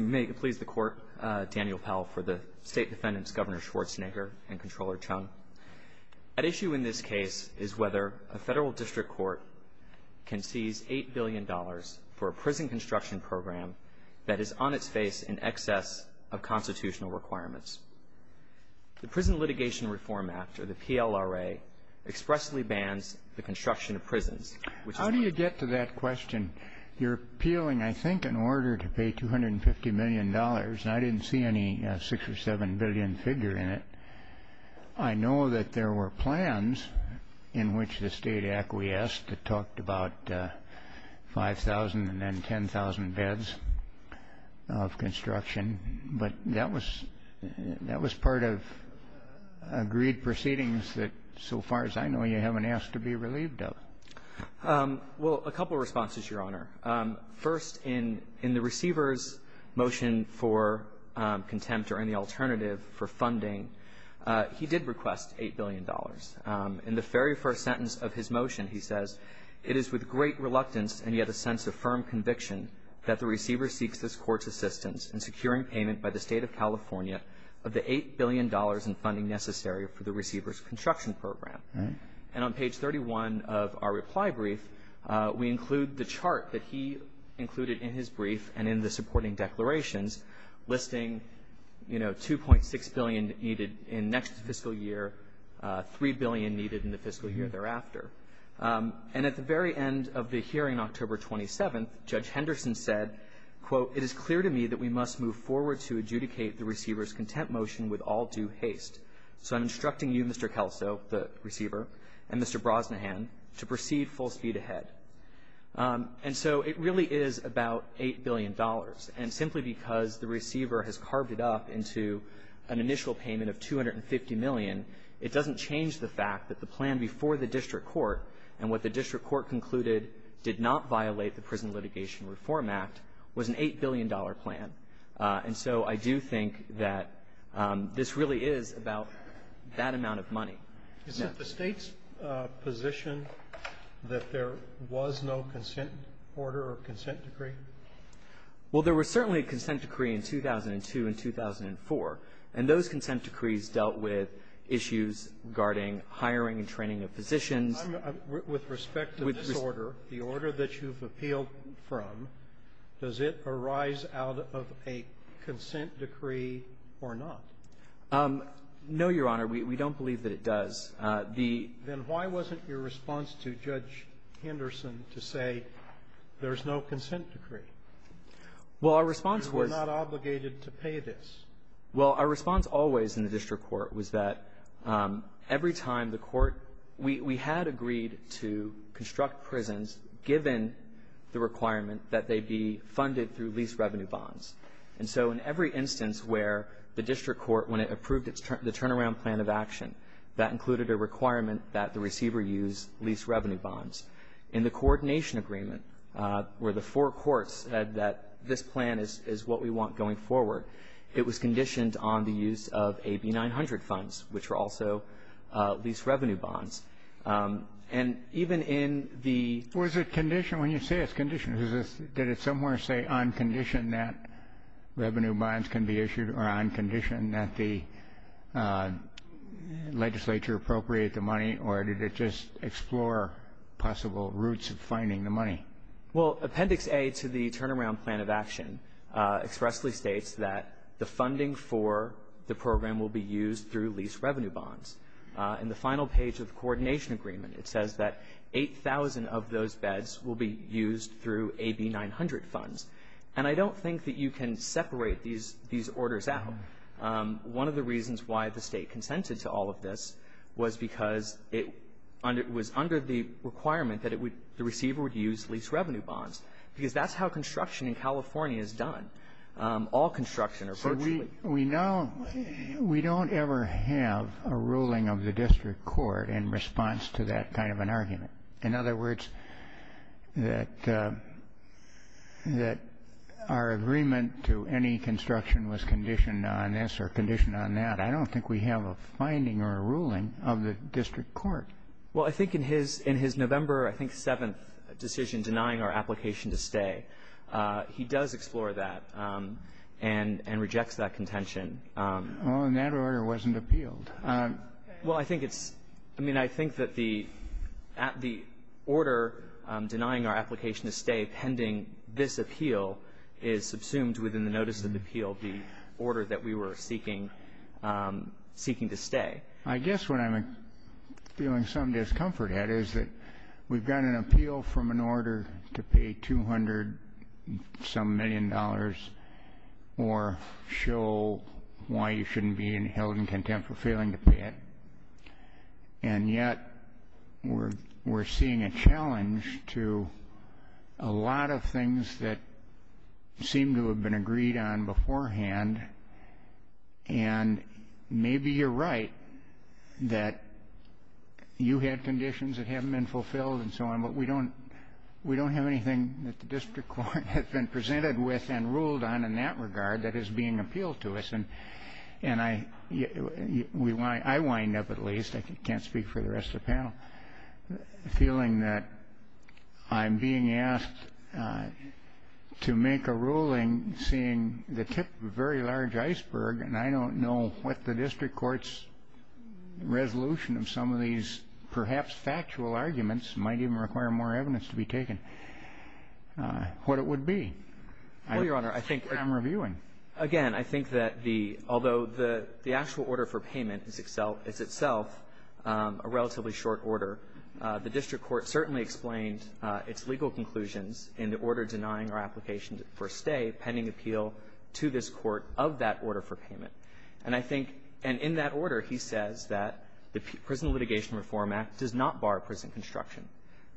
May it please the Court, Daniel Powell for the State Defendants, Governor Schwarzenegger and Comptroller Chung. At issue in this case is whether a federal district court can seize $8 billion for a prison construction program that is on its face in excess of constitutional requirements. The Prison Litigation Reform Act, or the PLRA, expressly bans the construction of prisons. How do you get to that question? You're appealing, I think, an order to pay $250 million, and I didn't see any six or seven billion figure in it. I know that there were plans in which the state acquiesced that talked about 5,000 and then 10,000 beds of construction, but that was part of agreed proceedings that, so far as I know, you haven't asked to be relieved of. Well, a couple of responses, Your Honor. First, in the receiver's motion for contempt or any alternative for funding, he did request $8 billion. In the very first sentence of his motion, he says, it is with great reluctance and yet a sense of firm conviction that the receiver seeks this court's assistance in securing payment by the State of California of the $8 billion in funding necessary for the receiver's construction program. And on page 31 of our reply brief, we include the chart that he included in his brief and in the supporting declarations listing, you know, 2.6 billion needed in next fiscal year, 3 billion needed in the fiscal year thereafter. And at the very end of the hearing, October 27th, Judge Henderson said, quote, it is clear to me that we must move forward to adjudicate the receiver's contempt motion with all due haste. So I'm instructing you, Mr. Kelso, the receiver, and Mr. Brosnahan, to proceed full speed ahead. And so it really is about $8 billion. And simply because the receiver has carved it up into an initial payment of $250 million, it doesn't change the fact that the plan before the district court and what the district court concluded did not violate the Prison Litigation Reform Act was an $8 billion plan. And so I do think that this really is about that amount of money. Is it the State's position that there was no consent order or consent decree? Well, there was certainly a consent decree in 2002 and 2004. And those consent decrees dealt with issues regarding hiring and training of physicians. With respect to this order, the order that you've appealed from, does it arise out of a consent decree or not? No, Your Honor. We don't believe that it does. Then why wasn't your response to Judge Henderson to say there's no consent decree? Well, our response was — You were not obligated to pay this. Well, our response always in the district court was that every time the court — we had agreed to construct prisons given the requirement that they be funded through lease revenue bonds. And so in every instance where the district court, when it approved the turnaround plan of action, that included a requirement that the receiver use lease revenue bonds. In the coordination agreement, where the four courts said that this plan is what we want going forward, it was conditioned on the use of AB-900 funds, which were also lease revenue bonds. And even in the — Revenue bonds can be issued on condition that the legislature appropriate the money, or did it just explore possible routes of finding the money? Well, Appendix A to the turnaround plan of action expressly states that the funding for the program will be used through lease revenue bonds. In the final page of the coordination agreement, it says that 8,000 of those beds will be used through AB-900 funds. And I don't think that you can separate these orders out. One of the reasons why the State consented to all of this was because it was under the requirement that it would — the receiver would use lease revenue bonds, because that's how construction in California is done. All construction, or virtually. So we now — we don't ever have a ruling of the district court in response to that kind of an argument. In other words, that — that our agreement to any construction was conditioned on this or conditioned on that, I don't think we have a finding or a ruling of the district court. Well, I think in his — in his November, I think, seventh decision denying our application to stay, he does explore that and — and rejects that contention. Oh, and that order wasn't appealed. Well, I think it's — I mean, I think that the — the order denying our application to stay pending this appeal is subsumed within the notices of appeal, the order that we were seeking — seeking to stay. I guess what I'm feeling some discomfort at is that we've got an appeal from an order to pay 200-some million dollars or show why you shouldn't be held in contempt for failing to pay it. And yet we're — we're seeing a challenge to a lot of things that seem to have been agreed on beforehand. And maybe you're right that you had conditions that haven't been fulfilled and so on, but we don't — we don't have anything that the district court has been presented with and ruled on in that regard that is being appealed to us. And — and I — we — I wind up, at least — I can't speak for the rest of the panel — feeling that I'm being asked to make a ruling seeing the tip of a very large iceberg and I don't know what the district court's resolution of some of these perhaps factual arguments might even require more evidence to be taken, what it would be. Well, Your Honor, I think — I'm reviewing. Again, I think that the — although the actual order for payment is itself a relatively short order, the district court certainly explained its legal conclusions in the order denying our application for stay pending appeal to this court of that order for payment. And I think — and in that order, he says that the Prison Litigation Reform Act does not bar prison construction,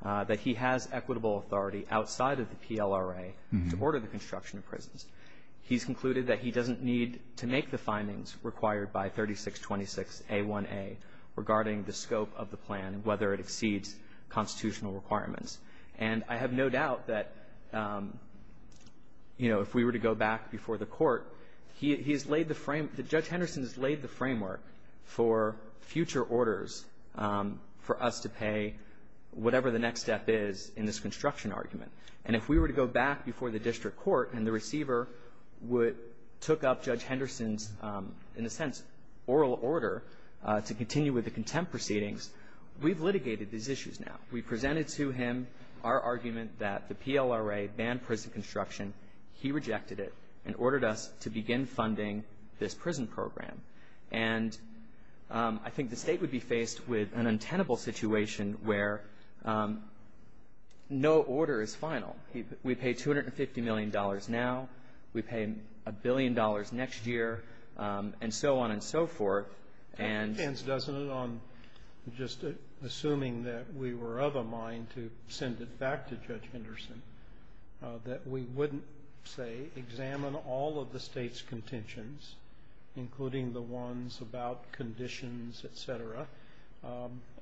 that he has equitable authority outside of the PLRA to order the construction of prisons. He's concluded that he doesn't need to make the findings required by 3626A1A regarding the scope of the plan, whether it exceeds constitutional requirements. And I have no doubt that, you know, if we were to go back before the Court, he — he has laid the frame — Judge Henderson has laid the framework for future orders for us to pay whatever the next step is in this construction argument. And if we were to go back before the district court and the receiver would — took up Judge Henderson's, in a sense, oral order to continue with the contempt proceedings, we've litigated these issues now. We presented to him our argument that the PLRA banned prison construction. He rejected it and ordered us to begin funding this prison program. And I think the State would be faced with an untenable situation where no order is final. We pay $250 million now. We pay a billion dollars next year, and so on and so forth. And — It depends, doesn't it, on just assuming that we were of a mind to send it back to Judge Henderson, that we wouldn't, say, examine all of the State's contentions, including the ones about conditions, et cetera,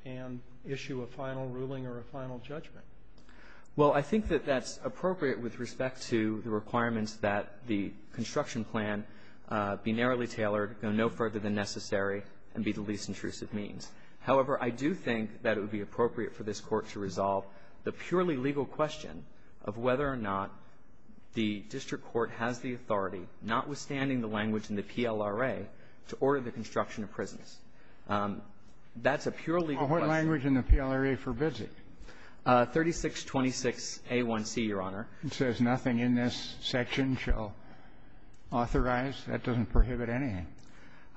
and issue a final ruling or a final judgment. Well, I think that that's appropriate with respect to the requirements that the construction plan be narrowly tailored, go no further than necessary, and be the least intrusive means. However, I do think that it would be appropriate for this Court to resolve the purely legal question of whether or not the district court has the authority, notwithstanding the language in the PLRA, to order the construction of prisons. That's a purely legal question. Well, what language in the PLRA forbids it? 3626a1c, Your Honor. It says nothing in this section shall authorize. That doesn't prohibit anything.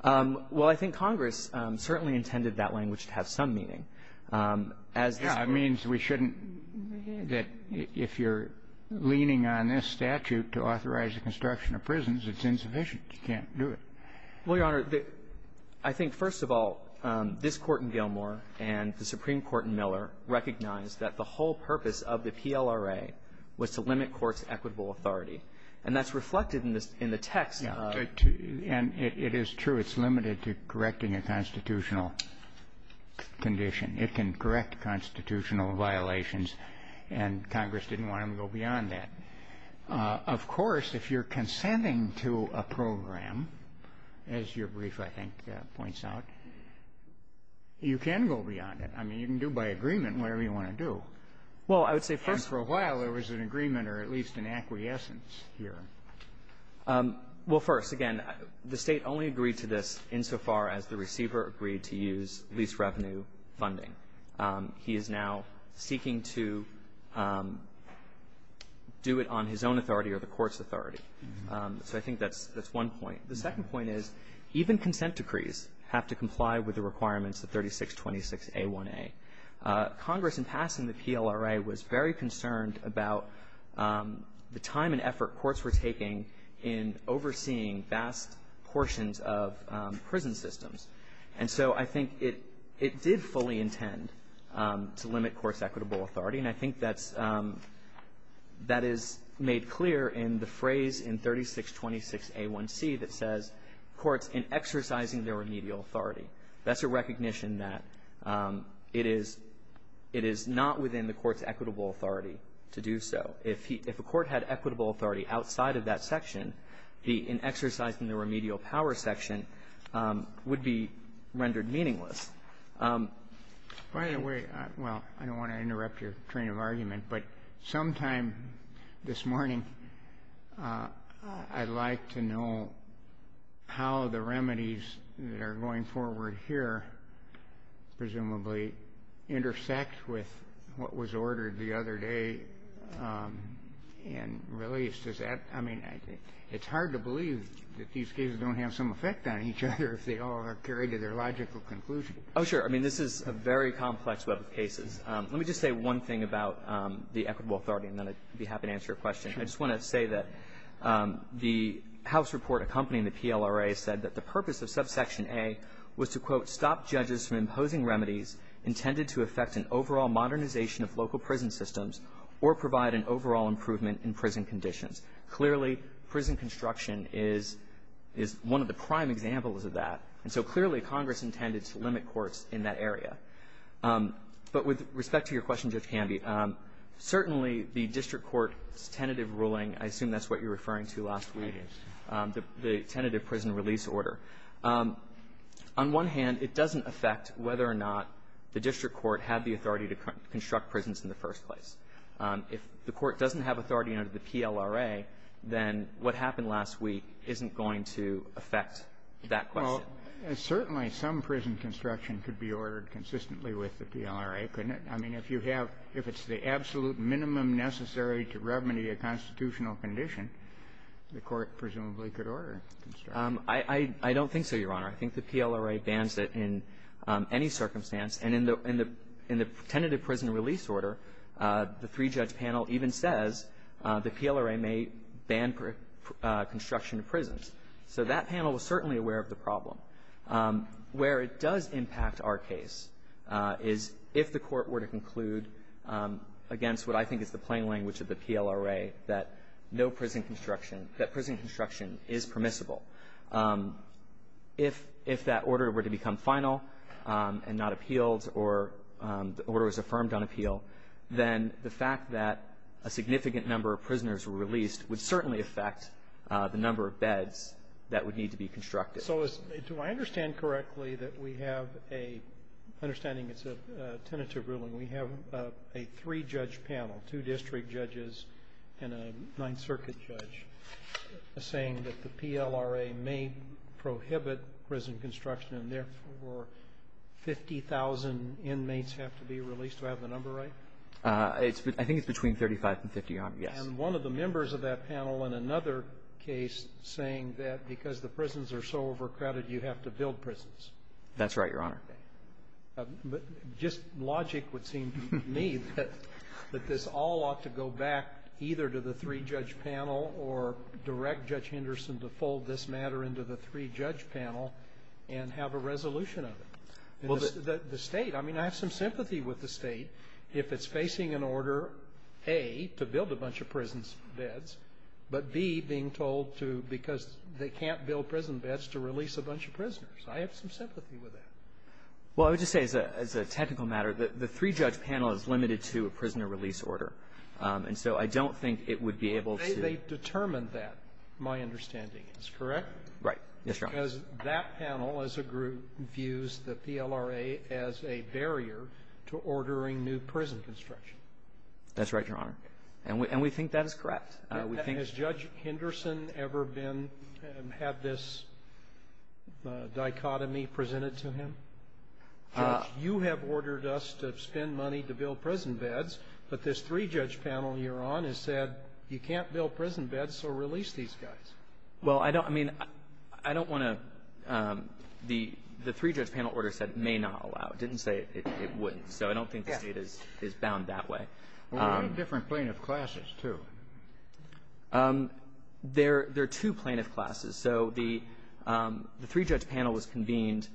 Well, I think Congress certainly intended that language to have some meaning. As this Court — Yeah. It means we shouldn't — that if you're leaning on this statute to authorize the construction of prisons, it's insufficient. You can't do it. Well, Your Honor, I think, first of all, this Court in Gilmore and the Supreme Court in Miller recognized that the whole purpose of the PLRA was to limit courts' equitable authority. And that's reflected in the text. Yeah. And it is true. It's limited to correcting a constitutional condition. It can correct constitutional violations, and Congress didn't want them to go beyond that. Of course, if you're consenting to a program, as your brief, I think, points out. You can go beyond it. I mean, you can do by agreement whatever you want to do. Well, I would say first — And for a while, there was an agreement or at least an acquiescence here. Well, first, again, the State only agreed to this insofar as the receiver agreed to use lease revenue funding. He is now seeking to do it on his own authority or the Court's authority. So I think that's one point. The second point is even consent decrees have to comply with the requirements of 3626a1a. Congress, in passing the PLRA, was very concerned about the time and effort courts were taking in overseeing vast portions of prison systems. And so I think it did fully intend to limit courts' equitable authority, and I think that's — that is made clear in the phrase in 3626a1c that says, courts in exercising their remedial authority. That's a recognition that it is — it is not within the Court's equitable authority to do so. If he — if a court had equitable authority outside of that section, the in exercising the remedial power section would be rendered meaningless. By the way — well, I don't want to interrupt your train of argument, but sometime this morning, I'd like to know how the remedies that are going forward here, presumably, intersect with what was ordered the other day in release. Does that — I mean, it's hard to believe that these cases don't have some effect on each other if they all are carried to their logical conclusion. Oh, sure. I mean, this is a very complex web of cases. Let me just say one thing about the equitable authority, and then I'd be happy to answer your question. Sure. I just want to say that the House report accompanying the PLRA said that the purpose of subsection A was to, quote, stop judges from imposing remedies intended to affect an overall modernization of local prison systems or provide an overall improvement in prison conditions. Clearly, prison construction is one of the prime examples of that. And so clearly, Congress intended to limit courts in that area. But with respect to your question, Judge Canby, certainly the district court's tentative ruling — I assume that's what you're referring to last week. It is. The tentative prison release order. On one hand, it doesn't affect whether or not the district court had the authority to construct prisons in the first place. If the court doesn't have authority under the PLRA, then what happened last week isn't going to affect that question. Well, certainly some prison construction could be ordered consistently with the PLRA, couldn't it? I mean, if you have — if it's the absolute minimum necessary to remedy a constitutional condition, the court presumably could order construction. I don't think so, Your Honor. I think the PLRA bans it in any circumstance. And in the — in the tentative prison release order, the three-judge panel even says the PLRA may ban construction of prisons. So that panel was certainly aware of the problem. Where it does impact our case is if the court were to conclude against what I think is the plain language of the PLRA, that no prison construction — that prison construction is permissible. If that order were to become final and not appealed or the order was affirmed on appeal, then the fact that a significant number of prisoners were released would certainly affect the number of beds that would need to be constructed. So do I understand correctly that we have a — understanding it's a tentative ruling, we have a three-judge panel, two district judges and a Ninth Circuit judge, saying that the PLRA may prohibit prison construction and therefore 50,000 inmates have to be released? Do I have the number right? I think it's between 35 and 50, Your Honor. Yes. And one of the members of that panel in another case saying that because the prisons are so overcrowded, you have to build prisons. That's right, Your Honor. But just logic would seem to me that this all ought to go back either to the three-judge panel or direct Judge Henderson to fold this matter into the three-judge panel and have a resolution of it. The State — I mean, I have some sympathy with the State if it's facing an order, A, to build a bunch of prison beds, but, B, being told to — because they can't build prison beds to release a bunch of prisoners. I have some sympathy with that. Well, I would just say as a technical matter, the three-judge panel is limited to a prisoner release order. And so I don't think it would be able to — They determined that, my understanding. It's correct? Right. Yes, Your Honor. Because that panel as a group views the PLRA as a barrier to ordering new prison construction. That's right, Your Honor. And we think that is correct. We think — Has Judge Henderson ever been — had this dichotomy presented to him? Judge, you have ordered us to spend money to build prison beds, but this three-judge panel you're on has said you can't build prison beds, so release these guys. Well, I don't — I mean, I don't want to — the three-judge panel order said may not allow. It didn't say it wouldn't. So I don't think the State is bound that way. Well, we have different plaintiff classes, too. There are two plaintiff classes. So the three-judge panel was convened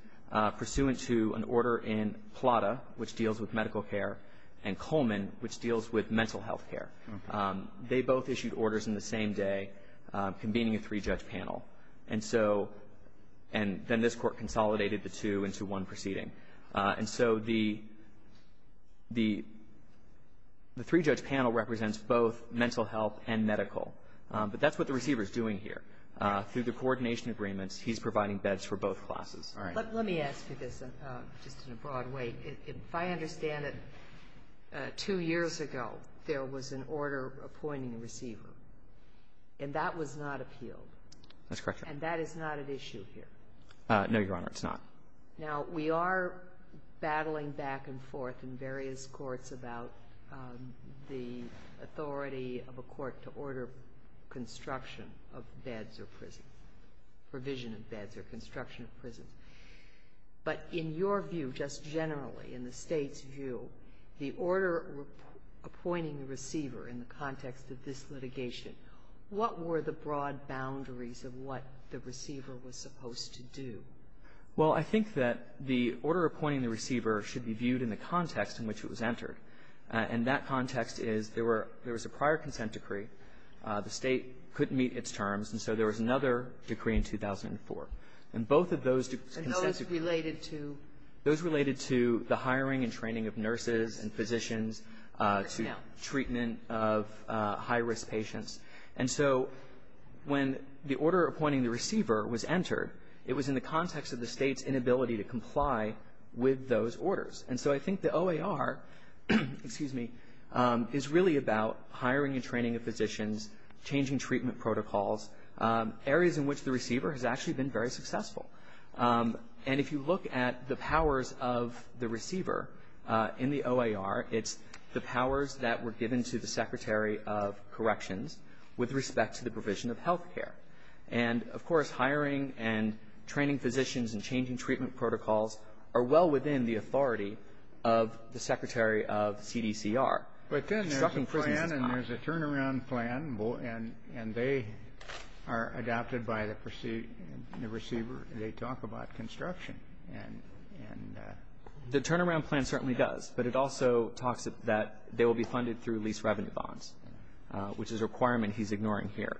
pursuant to an order in Plata, which deals with medical care, and Coleman, which deals with mental health care. They both issued orders in the same day convening a three-judge panel. And so — and then this Court consolidated the two into one proceeding. And so the three-judge panel represents both mental health and medical. But that's what the receiver is doing here. Through the coordination agreements, he's providing beds for both classes. All right. Let me ask you this, just in a broad way. If I understand it, two years ago, there was an order appointing a receiver, and that was not appealed. That's correct, Your Honor. And that is not at issue here. No, Your Honor, it's not. Now, we are battling back and forth in various courts about the authority of a court to order construction of beds or prison, provision of beds or construction of prisons. But in your view, just generally, in the State's view, the order appointing the receiver in the context of this litigation, what were the broad boundaries of what the receiver was supposed to do? Well, I think that the order appointing the receiver should be viewed in the context in which it was entered. And that context is there was a prior consent decree. The State couldn't meet its terms, and so there was another decree in 2004. And both of those consents of And those related to? Those related to the hiring and training of nurses and physicians to treatment of high-risk patients. And so when the order appointing the receiver was entered, it was in the context of the State's inability to comply with those orders. And so I think the OAR, excuse me, is really about hiring and training of physicians, changing treatment protocols, areas in which the receiver has actually been very successful. And if you look at the powers of the receiver in the OAR, it's the powers that were given to the Secretary of Corrections with respect to the provision of health care. And, of course, hiring and training physicians and changing treatment protocols are well within the authority of the Secretary of CDCR. But then there's a plan and there's a turnaround plan, and they are adopted by the receiver. They talk about construction and the turnaround plan certainly does, but it also talks that they will be funded through lease revenue bonds, which is a requirement he's ignoring here.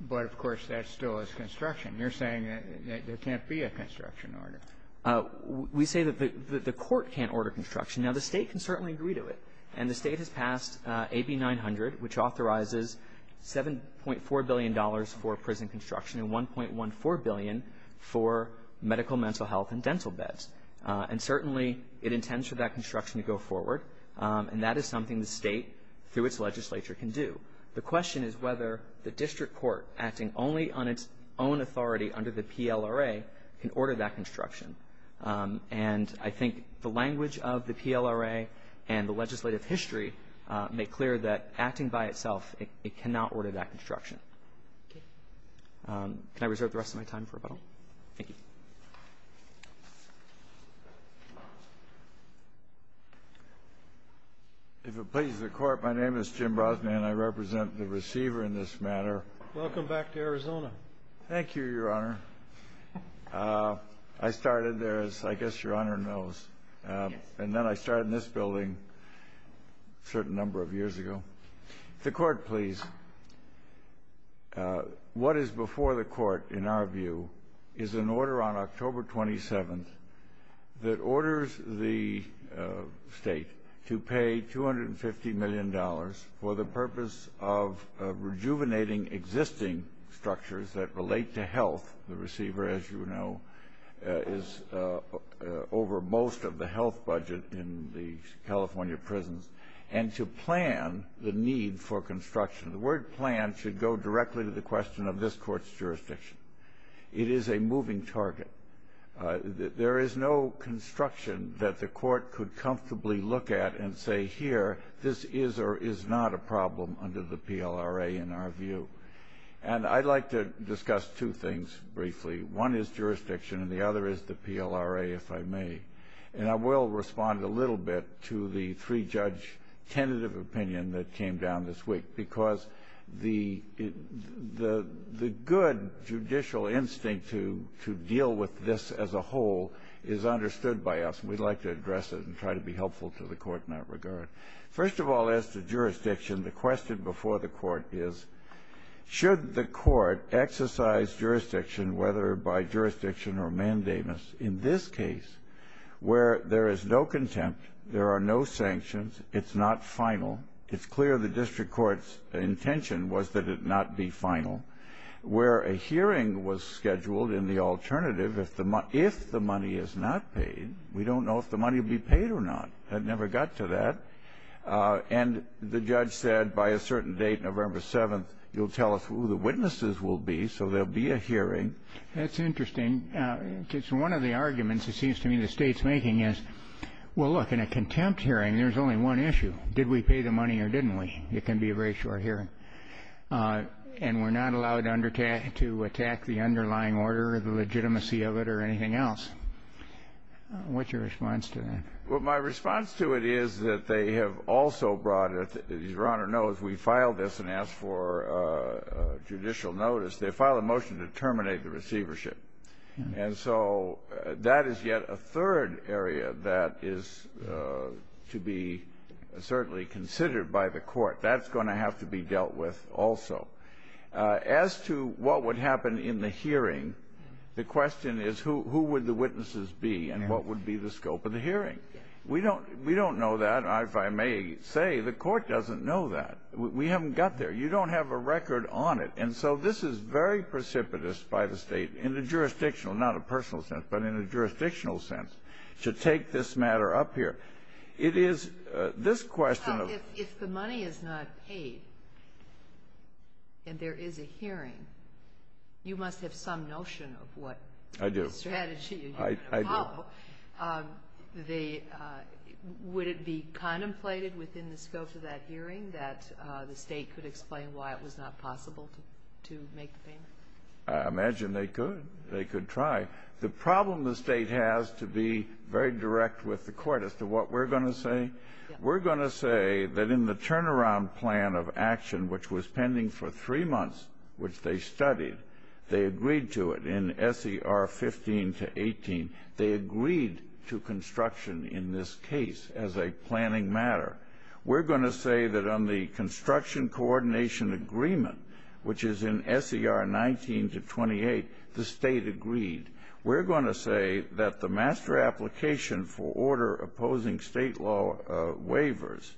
But, of course, that still is construction. You're saying that there can't be a construction order. We say that the Court can't order construction. Now, the State can certainly agree to it. And the State has passed AB 900, which authorizes $7.4 billion for prison construction and $1.14 billion for medical, mental health, and dental beds. And certainly it intends for that construction to go forward. And that is something the State, through its legislature, can do. The question is whether the district court, acting only on its own authority under the PLRA, can order that construction. And I think the language of the PLRA and the legislative history make clear that acting by itself, it cannot order that construction. Can I reserve the rest of my time for rebuttal? Thank you. If it pleases the Court, my name is Jim Brosnan. I represent the receiver in this matter. Welcome back to Arizona. Thank you, Your Honor. I started there, as I guess Your Honor knows. And then I started in this building a certain number of years ago. The Court, please. What is before the Court, in our view, is an order on October 27th that orders the State to pay $250 million for the purpose of rejuvenating existing structures that relate to health. The receiver, as you know, is over most of the health budget in the California prisons. And to plan the need for construction. The word plan should go directly to the question of this Court's jurisdiction. It is a moving target. There is no construction that the Court could comfortably look at and say, here, this is or is not a problem under the PLRA, in our view. And I'd like to discuss two things briefly. One is jurisdiction, and the other is the PLRA, if I may. And I will respond a little bit to the three-judge tentative opinion that came down this week. Because the good judicial instinct to deal with this as a whole is understood by us. We'd like to address it and try to be helpful to the Court in that regard. First of all, as to jurisdiction, the question before the Court is, should the Court exercise jurisdiction whether by jurisdiction or mandamus? In this case, where there is no contempt, there are no sanctions, it's not final, it's clear the district court's intention was that it not be final. Where a hearing was scheduled in the alternative, if the money is not paid, we don't know if the money will be paid or not. It never got to that. And the judge said by a certain date, November 7th, you'll tell us who the witnesses will be, so there will be a hearing. That's interesting. It's one of the arguments, it seems to me, the State's making is, well, look, in a contempt hearing, there's only one issue, did we pay the money or didn't we? It can be a very short hearing. And we're not allowed to attack the underlying order or the legitimacy of it or anything else. What's your response to that? Well, my response to it is that they have also brought it, as Your Honor knows, we filed this and asked for judicial notice. They filed a motion to terminate the receivership. And so that is yet a third area that is to be certainly considered by the court. That's going to have to be dealt with also. As to what would happen in the hearing, the question is who would the witnesses be and what would be the scope of the hearing? We don't know that. If I may say, the court doesn't know that. We haven't got there. You don't have a record on it. And so this is very precipitous by the State in a jurisdictional, not a personal sense, but in a jurisdictional sense to take this matter up here. It is this question of — Now, if the money is not paid and there is a hearing, you must have some notion of what — I do. — the strategy you're going to follow. I do. possible to make the payment? I imagine they could. They could try. The problem the State has, to be very direct with the court as to what we're going to say, we're going to say that in the turnaround plan of action, which was pending for three months, which they studied, they agreed to it in S.E.R. 15 to 18. They agreed to construction in this case as a planning matter. We're going to say that on the construction coordination agreement, which is in S.E.R. 19 to 28, the State agreed. We're going to say that the master application for order opposing State law waivers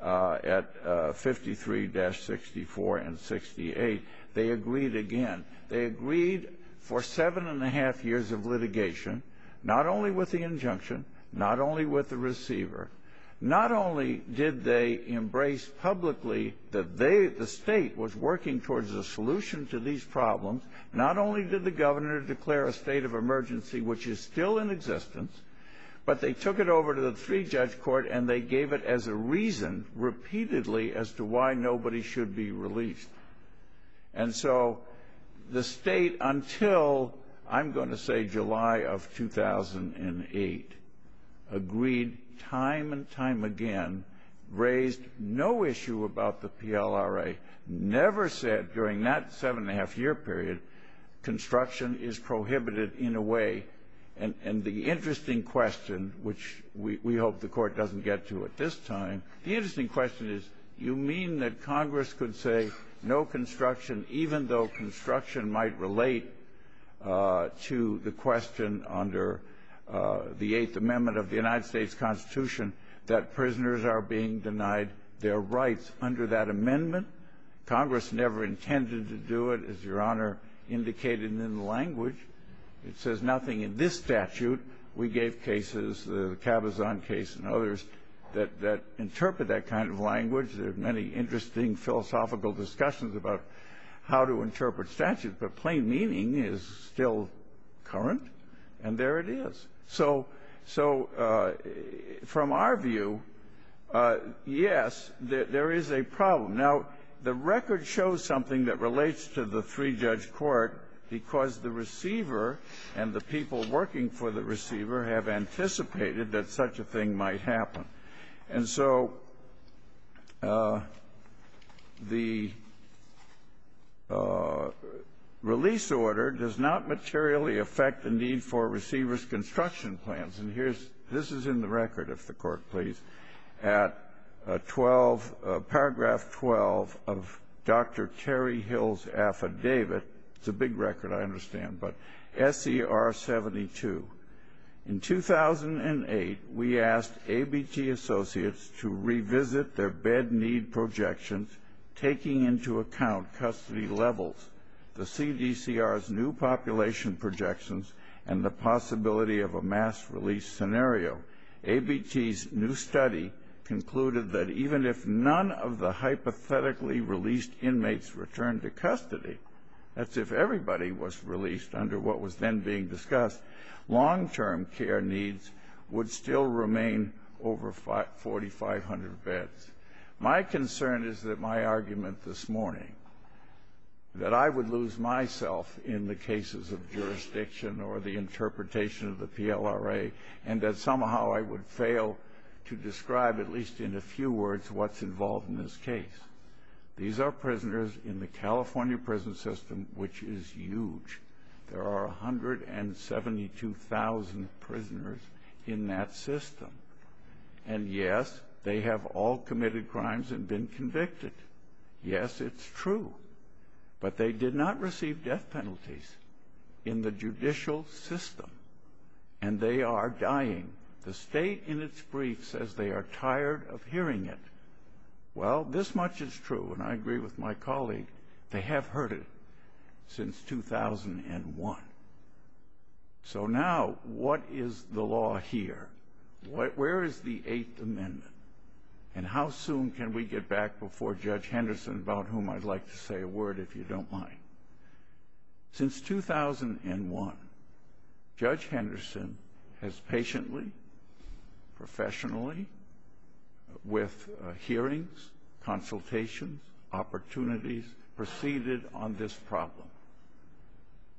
at 53-64 and 68, they agreed again. They agreed for seven and a half years of litigation, not only with the injunction, not only with the receiver, not only did they embrace publicly that the State was working towards a solution to these problems, not only did the governor declare a state of emergency, which is still in existence, but they took it over to the three-judge court and they gave it as a reason repeatedly as to why nobody should be released. And so the State, until I'm going to say July of 2008, agreed time and time again, raised no issue about the PLRA, never said during that seven and a half year period, construction is prohibited in a way. And the interesting question, which we hope the court doesn't get to at this time, the interesting question is, you mean that Congress could say no construction, even though construction might relate to the question under the Eighth Amendment of the United States Constitution that prisoners are being denied their rights under that amendment? Congress never intended to do it, as Your Honor indicated in the language. It says nothing in this statute. We gave cases, the Cabazon case and others, that interpret that kind of language. There are many interesting philosophical discussions about how to interpret statute, but plain meaning is still current, and there it is. So from our view, yes, there is a problem. Now, the record shows something that relates to the three-judge court because the receiver and the people working for the receiver have anticipated that such a thing might happen. And so the release order does not materially affect the need for receivers' construction plans. And this is in the record, if the court please, at paragraph 12 of Dr. Terry Hill's affidavit. It's a big record, I understand, but SER 72. In 2008, we asked ABT associates to revisit their bed need projections, taking into account custody levels, the CDCR's new population projections, and the possibility of a mass release scenario. ABT's new study concluded that even if none of the hypothetically released inmates return to custody, that's if everybody was released under what was then being discussed, long-term care needs would still remain over 4,500 beds. My concern is that my argument this morning, that I would lose myself in the cases of jurisdiction or the interpretation of the PLRA, and that somehow I would fail to describe, at least in a few words, what's involved in this case. These are prisoners in the California prison system, which is huge. There are 172,000 prisoners in that system. And, yes, they have all committed crimes and been convicted. Yes, it's true. But they did not receive death penalties in the judicial system, and they are dying. The state, in its brief, says they are tired of hearing it. Well, this much is true, and I agree with my colleague. They have heard it since 2001. So now, what is the law here? Where is the Eighth Amendment? And how soon can we get back before Judge Henderson, about whom I'd like to say a word, if you don't mind? Since 2001, Judge Henderson has patiently, professionally, with hearings, consultations, opportunities, proceeded on this problem.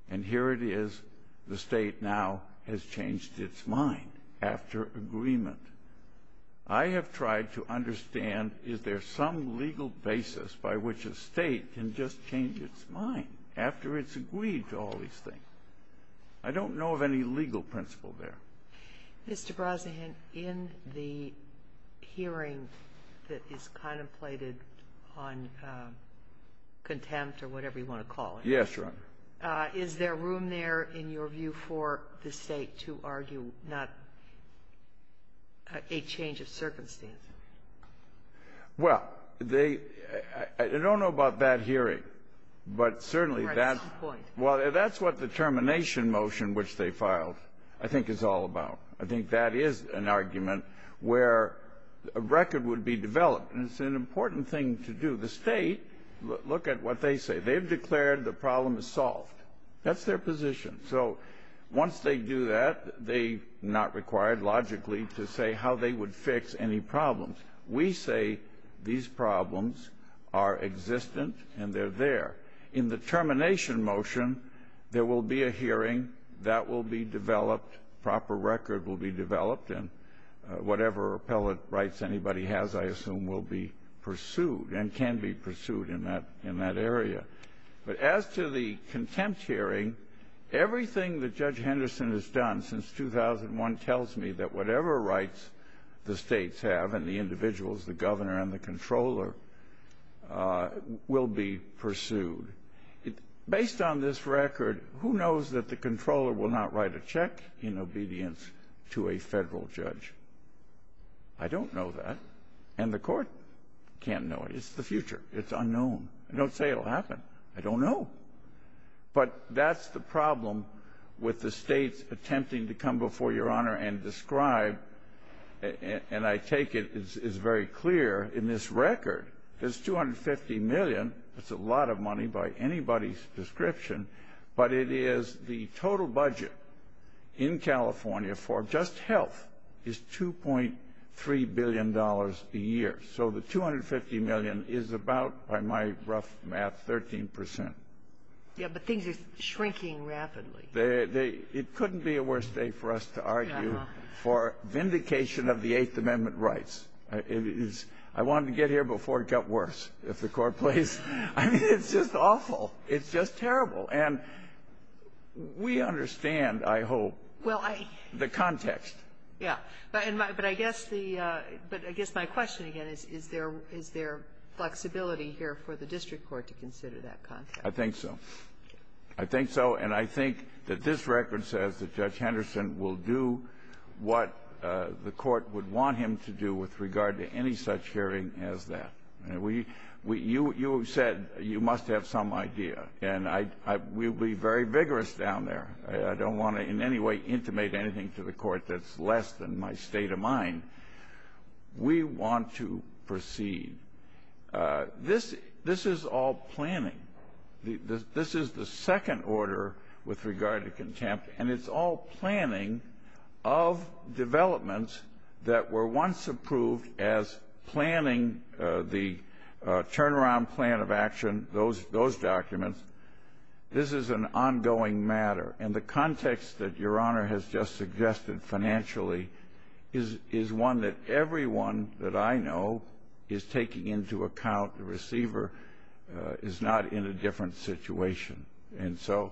And here it is. The state now has changed its mind after agreement. I have tried to understand, is there some legal basis by which a state can just change its mind after it's agreed to all these things? I don't know of any legal principle there. Mr. Brosnahan, in the hearing that is contemplated on contempt or whatever you want to call it, Yes, Your Honor. is there room there, in your view, for the state to argue not a change of circumstance? Well, I don't know about that hearing, but certainly that's what the termination motion, which they filed, I think is all about. I think that is an argument where a record would be developed, and it's an important thing to do. The state, look at what they say. They've declared the problem is solved. That's their position. So once they do that, they're not required, logically, to say how they would fix any problems. We say these problems are existent and they're there. In the termination motion, there will be a hearing. That will be developed. A proper record will be developed, and whatever appellate rights anybody has, I assume, will be pursued and can be pursued in that area. But as to the contempt hearing, everything that Judge Henderson has done since 2001 tells me that whatever rights the states have and the individuals, the governor and the controller, will be pursued. Based on this record, who knows that the controller will not write a check in obedience to a federal judge? I don't know that. And the court can't know it. It's the future. It's unknown. I don't say it will happen. I don't know. But that's the problem with the states attempting to come before Your Honor and describe, and I take it as very clear in this record, there's $250 million. That's a lot of money by anybody's description. But it is the total budget in California for just health is $2.3 billion a year. So the $250 million is about, by my rough math, 13%. Yeah, but things are shrinking rapidly. It couldn't be a worse day for us to argue for vindication of the Eighth Amendment rights. I wanted to get here before it got worse. I mean, it's just awful. It's just terrible. And we understand, I hope, the context. Yeah. But I guess the ‑‑ but I guess my question again is, is there flexibility here for the district court to consider that context? I think so. I think so, and I think that this record says that Judge Henderson will do what the court would want him to do with regard to any such hearing as that. You have said you must have some idea, and we'll be very vigorous down there. I don't want to in any way intimate anything to the court that's less than my state of mind. We want to proceed. This is all planning. This is the second order with regard to contempt, and it's all planning of developments that were once approved as planning the turnaround plan of action, those documents. This is an ongoing matter, and the context that Your Honor has just suggested financially is one that everyone that I know is taking into account the receiver is not in a different situation. And so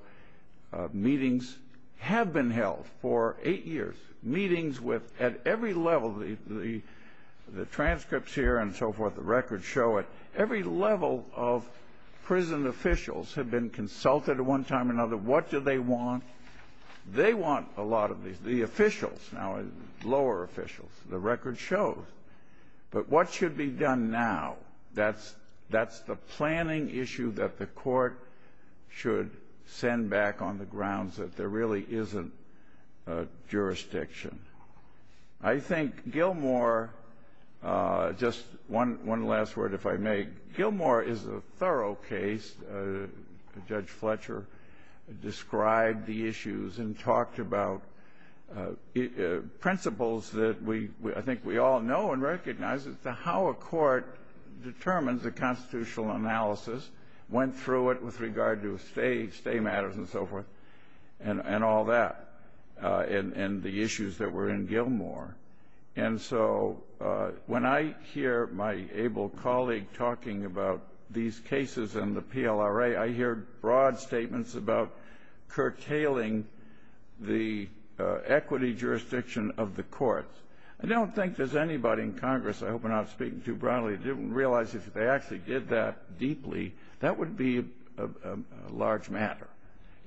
meetings have been held for eight years. Meetings with, at every level, the transcripts here and so forth, the records show it. Every level of prison officials have been consulted at one time or another. What do they want? They want a lot of these. The officials, now lower officials, the record shows. But what should be done now? That's the planning issue that the court should send back on the grounds that there really isn't jurisdiction. I think Gilmore, just one last word if I may, Gilmore is a thorough case. Judge Fletcher described the issues and talked about principles that I think we all know and recognize as to how a court determines a constitutional analysis, went through it with regard to stay matters and so forth, and all that, and the issues that were in Gilmore. And so when I hear my able colleague talking about these cases in the PLRA, I hear broad statements about curtailing the equity jurisdiction of the courts. I don't think there's anybody in Congress, I hope I'm not speaking too broadly, didn't realize if they actually did that deeply, that would be a large matter.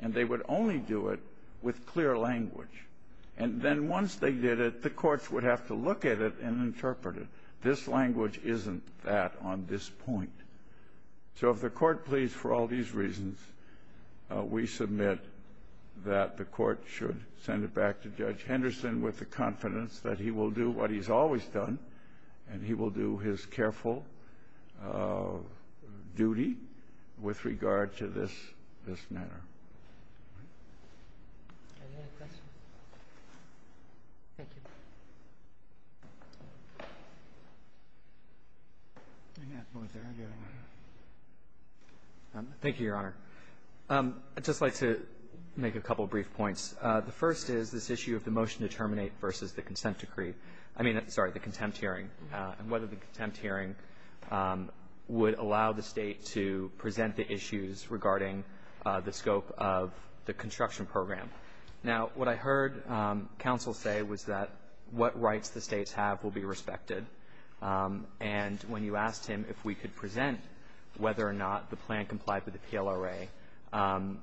And they would only do it with clear language. And then once they did it, the courts would have to look at it and interpret it. This language isn't that on this point. So if the court pleads for all these reasons, we submit that the court should send it back to Judge Henderson with the confidence that he will do what he's always done, and he will do his careful duty with regard to this matter. Thank you. Thank you, Your Honor. I'd just like to make a couple of brief points. The first is this issue of the motion to terminate versus the consent decree. I mean, sorry, the contempt hearing, and whether the contempt hearing would allow the State to present the issues regarding the scope of the construction program. Now, what I heard counsel say was that what rights the States have will be respected. And when you asked him if we could present whether or not the plan complied with the PLRA,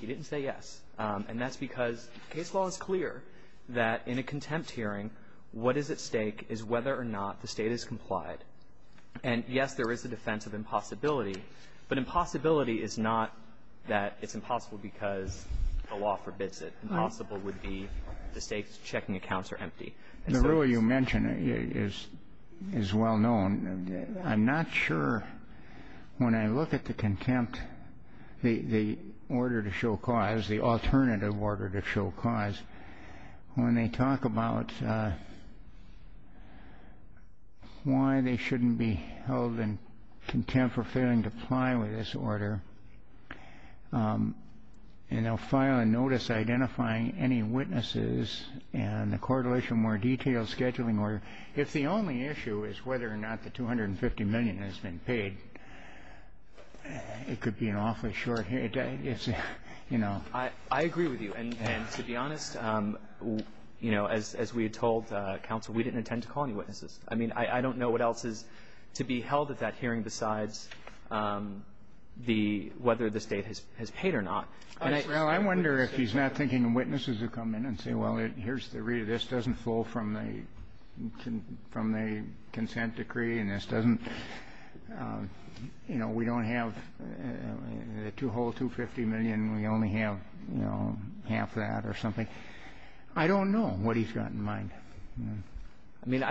he didn't say yes. And that's because case law is clear that in a contempt hearing, what is at stake is whether or not the State has complied. And, yes, there is a defense of impossibility, but impossibility is not that it's impossible because the law forbids it. Impossible would be the State's checking accounts are empty. The rule you mention is well known. I'm not sure when I look at the contempt, the order to show cause, the alternative order to show cause, when they talk about why they shouldn't be held in contempt for failing to comply with this order, and they'll file a notice identifying any witnesses and a correlation more detailed scheduling order. If the only issue is whether or not the $250 million has been paid, it could be an awfully short hearing. You know. I agree with you. And to be honest, you know, as we had told counsel, we didn't intend to call any witnesses. I mean, I don't know what else is to be held at that hearing besides whether the State has paid or not. Well, I wonder if he's not thinking of witnesses who come in and say, well, here's the read. This doesn't flow from the consent decree, and this doesn't, you know, we don't have the two whole $250 million. We only have, you know, half that or something. I don't know what he's got in mind. I mean,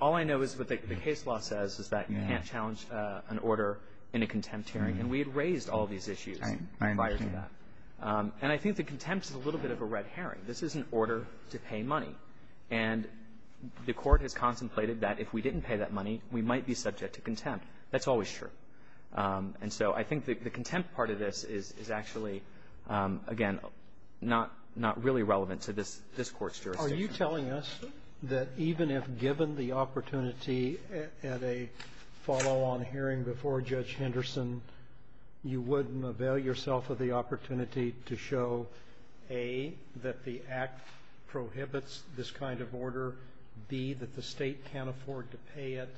all I know is what the case law says is that you can't challenge an order in a contempt hearing. And we had raised all these issues prior to that. And I think the contempt is a little bit of a red herring. This is an order to pay money. And the Court has contemplated that if we didn't pay that money, we might be subject to contempt. That's always true. And so I think the contempt part of this is actually, again, not really relevant to this Court's jurisdiction. Are you telling us that even if given the opportunity at a follow-on hearing before Judge Henderson, you wouldn't avail yourself of the opportunity to show, A, that the Act prohibits this kind of order, B, that the State can't afford to pay it,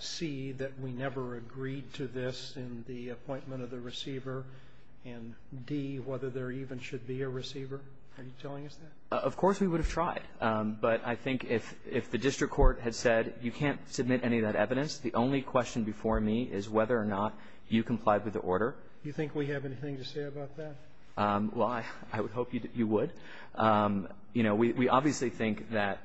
C, that we never agreed to this in the appointment of the receiver, and D, whether there even should be a receiver? Are you telling us that? Of course we would have tried. But I think if the district court had said you can't submit any of that evidence, the only question before me is whether or not you complied with the order. Do you think we have anything to say about that? Well, I would hope you would. You know, we obviously think that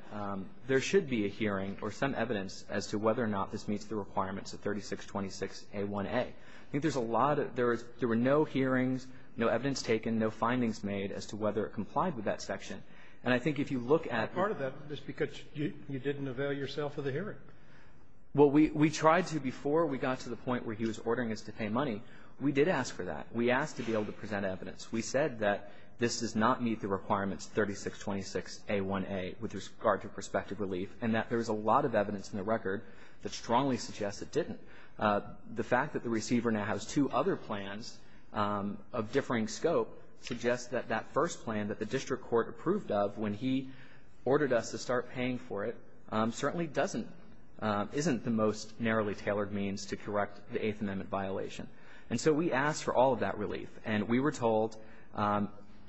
there should be a hearing or some evidence as to whether or not this meets the requirements of 3626a1a. I think there's a lot of – there were no hearings, no evidence taken, no findings made as to whether it complied with that section. And I think if you look at the – But part of that is because you didn't avail yourself of the hearing. Well, we tried to before we got to the point where he was ordering us to pay money. We did ask for that. We asked to be able to present evidence. We said that this does not meet the requirements 3626a1a with regard to prospective relief, and that there was a lot of evidence in the record that strongly suggests it didn't. The fact that the receiver now has two other plans of differing scope suggests that that first plan that the district court approved of when he ordered us to start paying for it certainly doesn't – isn't the most narrowly tailored means to correct the Eighth Amendment violation. And so we asked for all of that relief. And we were told,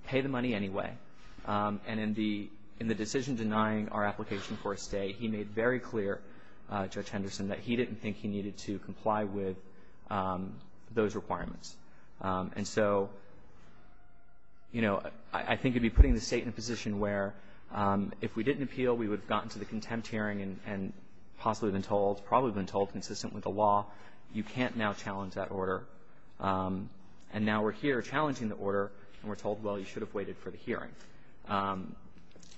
pay the money anyway. And in the decision denying our application for a stay, he made very clear, Judge to comply with those requirements. And so, you know, I think you'd be putting the State in a position where if we didn't appeal, we would have gotten to the contempt hearing and possibly been told – probably been told, consistent with the law, you can't now challenge that order. And now we're here challenging the order, and we're told, well, you should have waited for the hearing.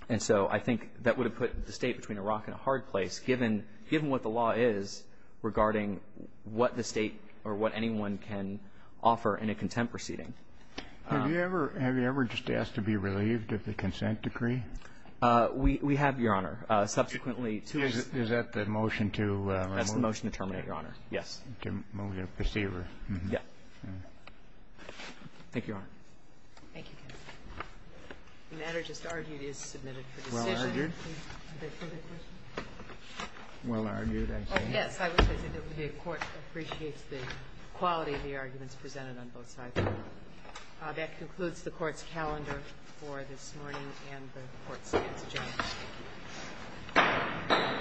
And so I think that would have put the State between a rock and a hard place, given – given what the law is regarding what the State or what anyone can offer in a contempt proceeding. Have you ever – have you ever just asked to be relieved of the consent decree? We have, Your Honor. Subsequently, to us – Is that the motion to remove? That's the motion to terminate, Your Honor. Yes. To remove the receiver. Yes. Thank you, Your Honor. Thank you, counsel. The matter just argued is submitted for decision. Well argued, I think. Yes, I would say that the Court appreciates the quality of the arguments presented on both sides. That concludes the Court's calendar for this morning and the Court's minutes adjourned.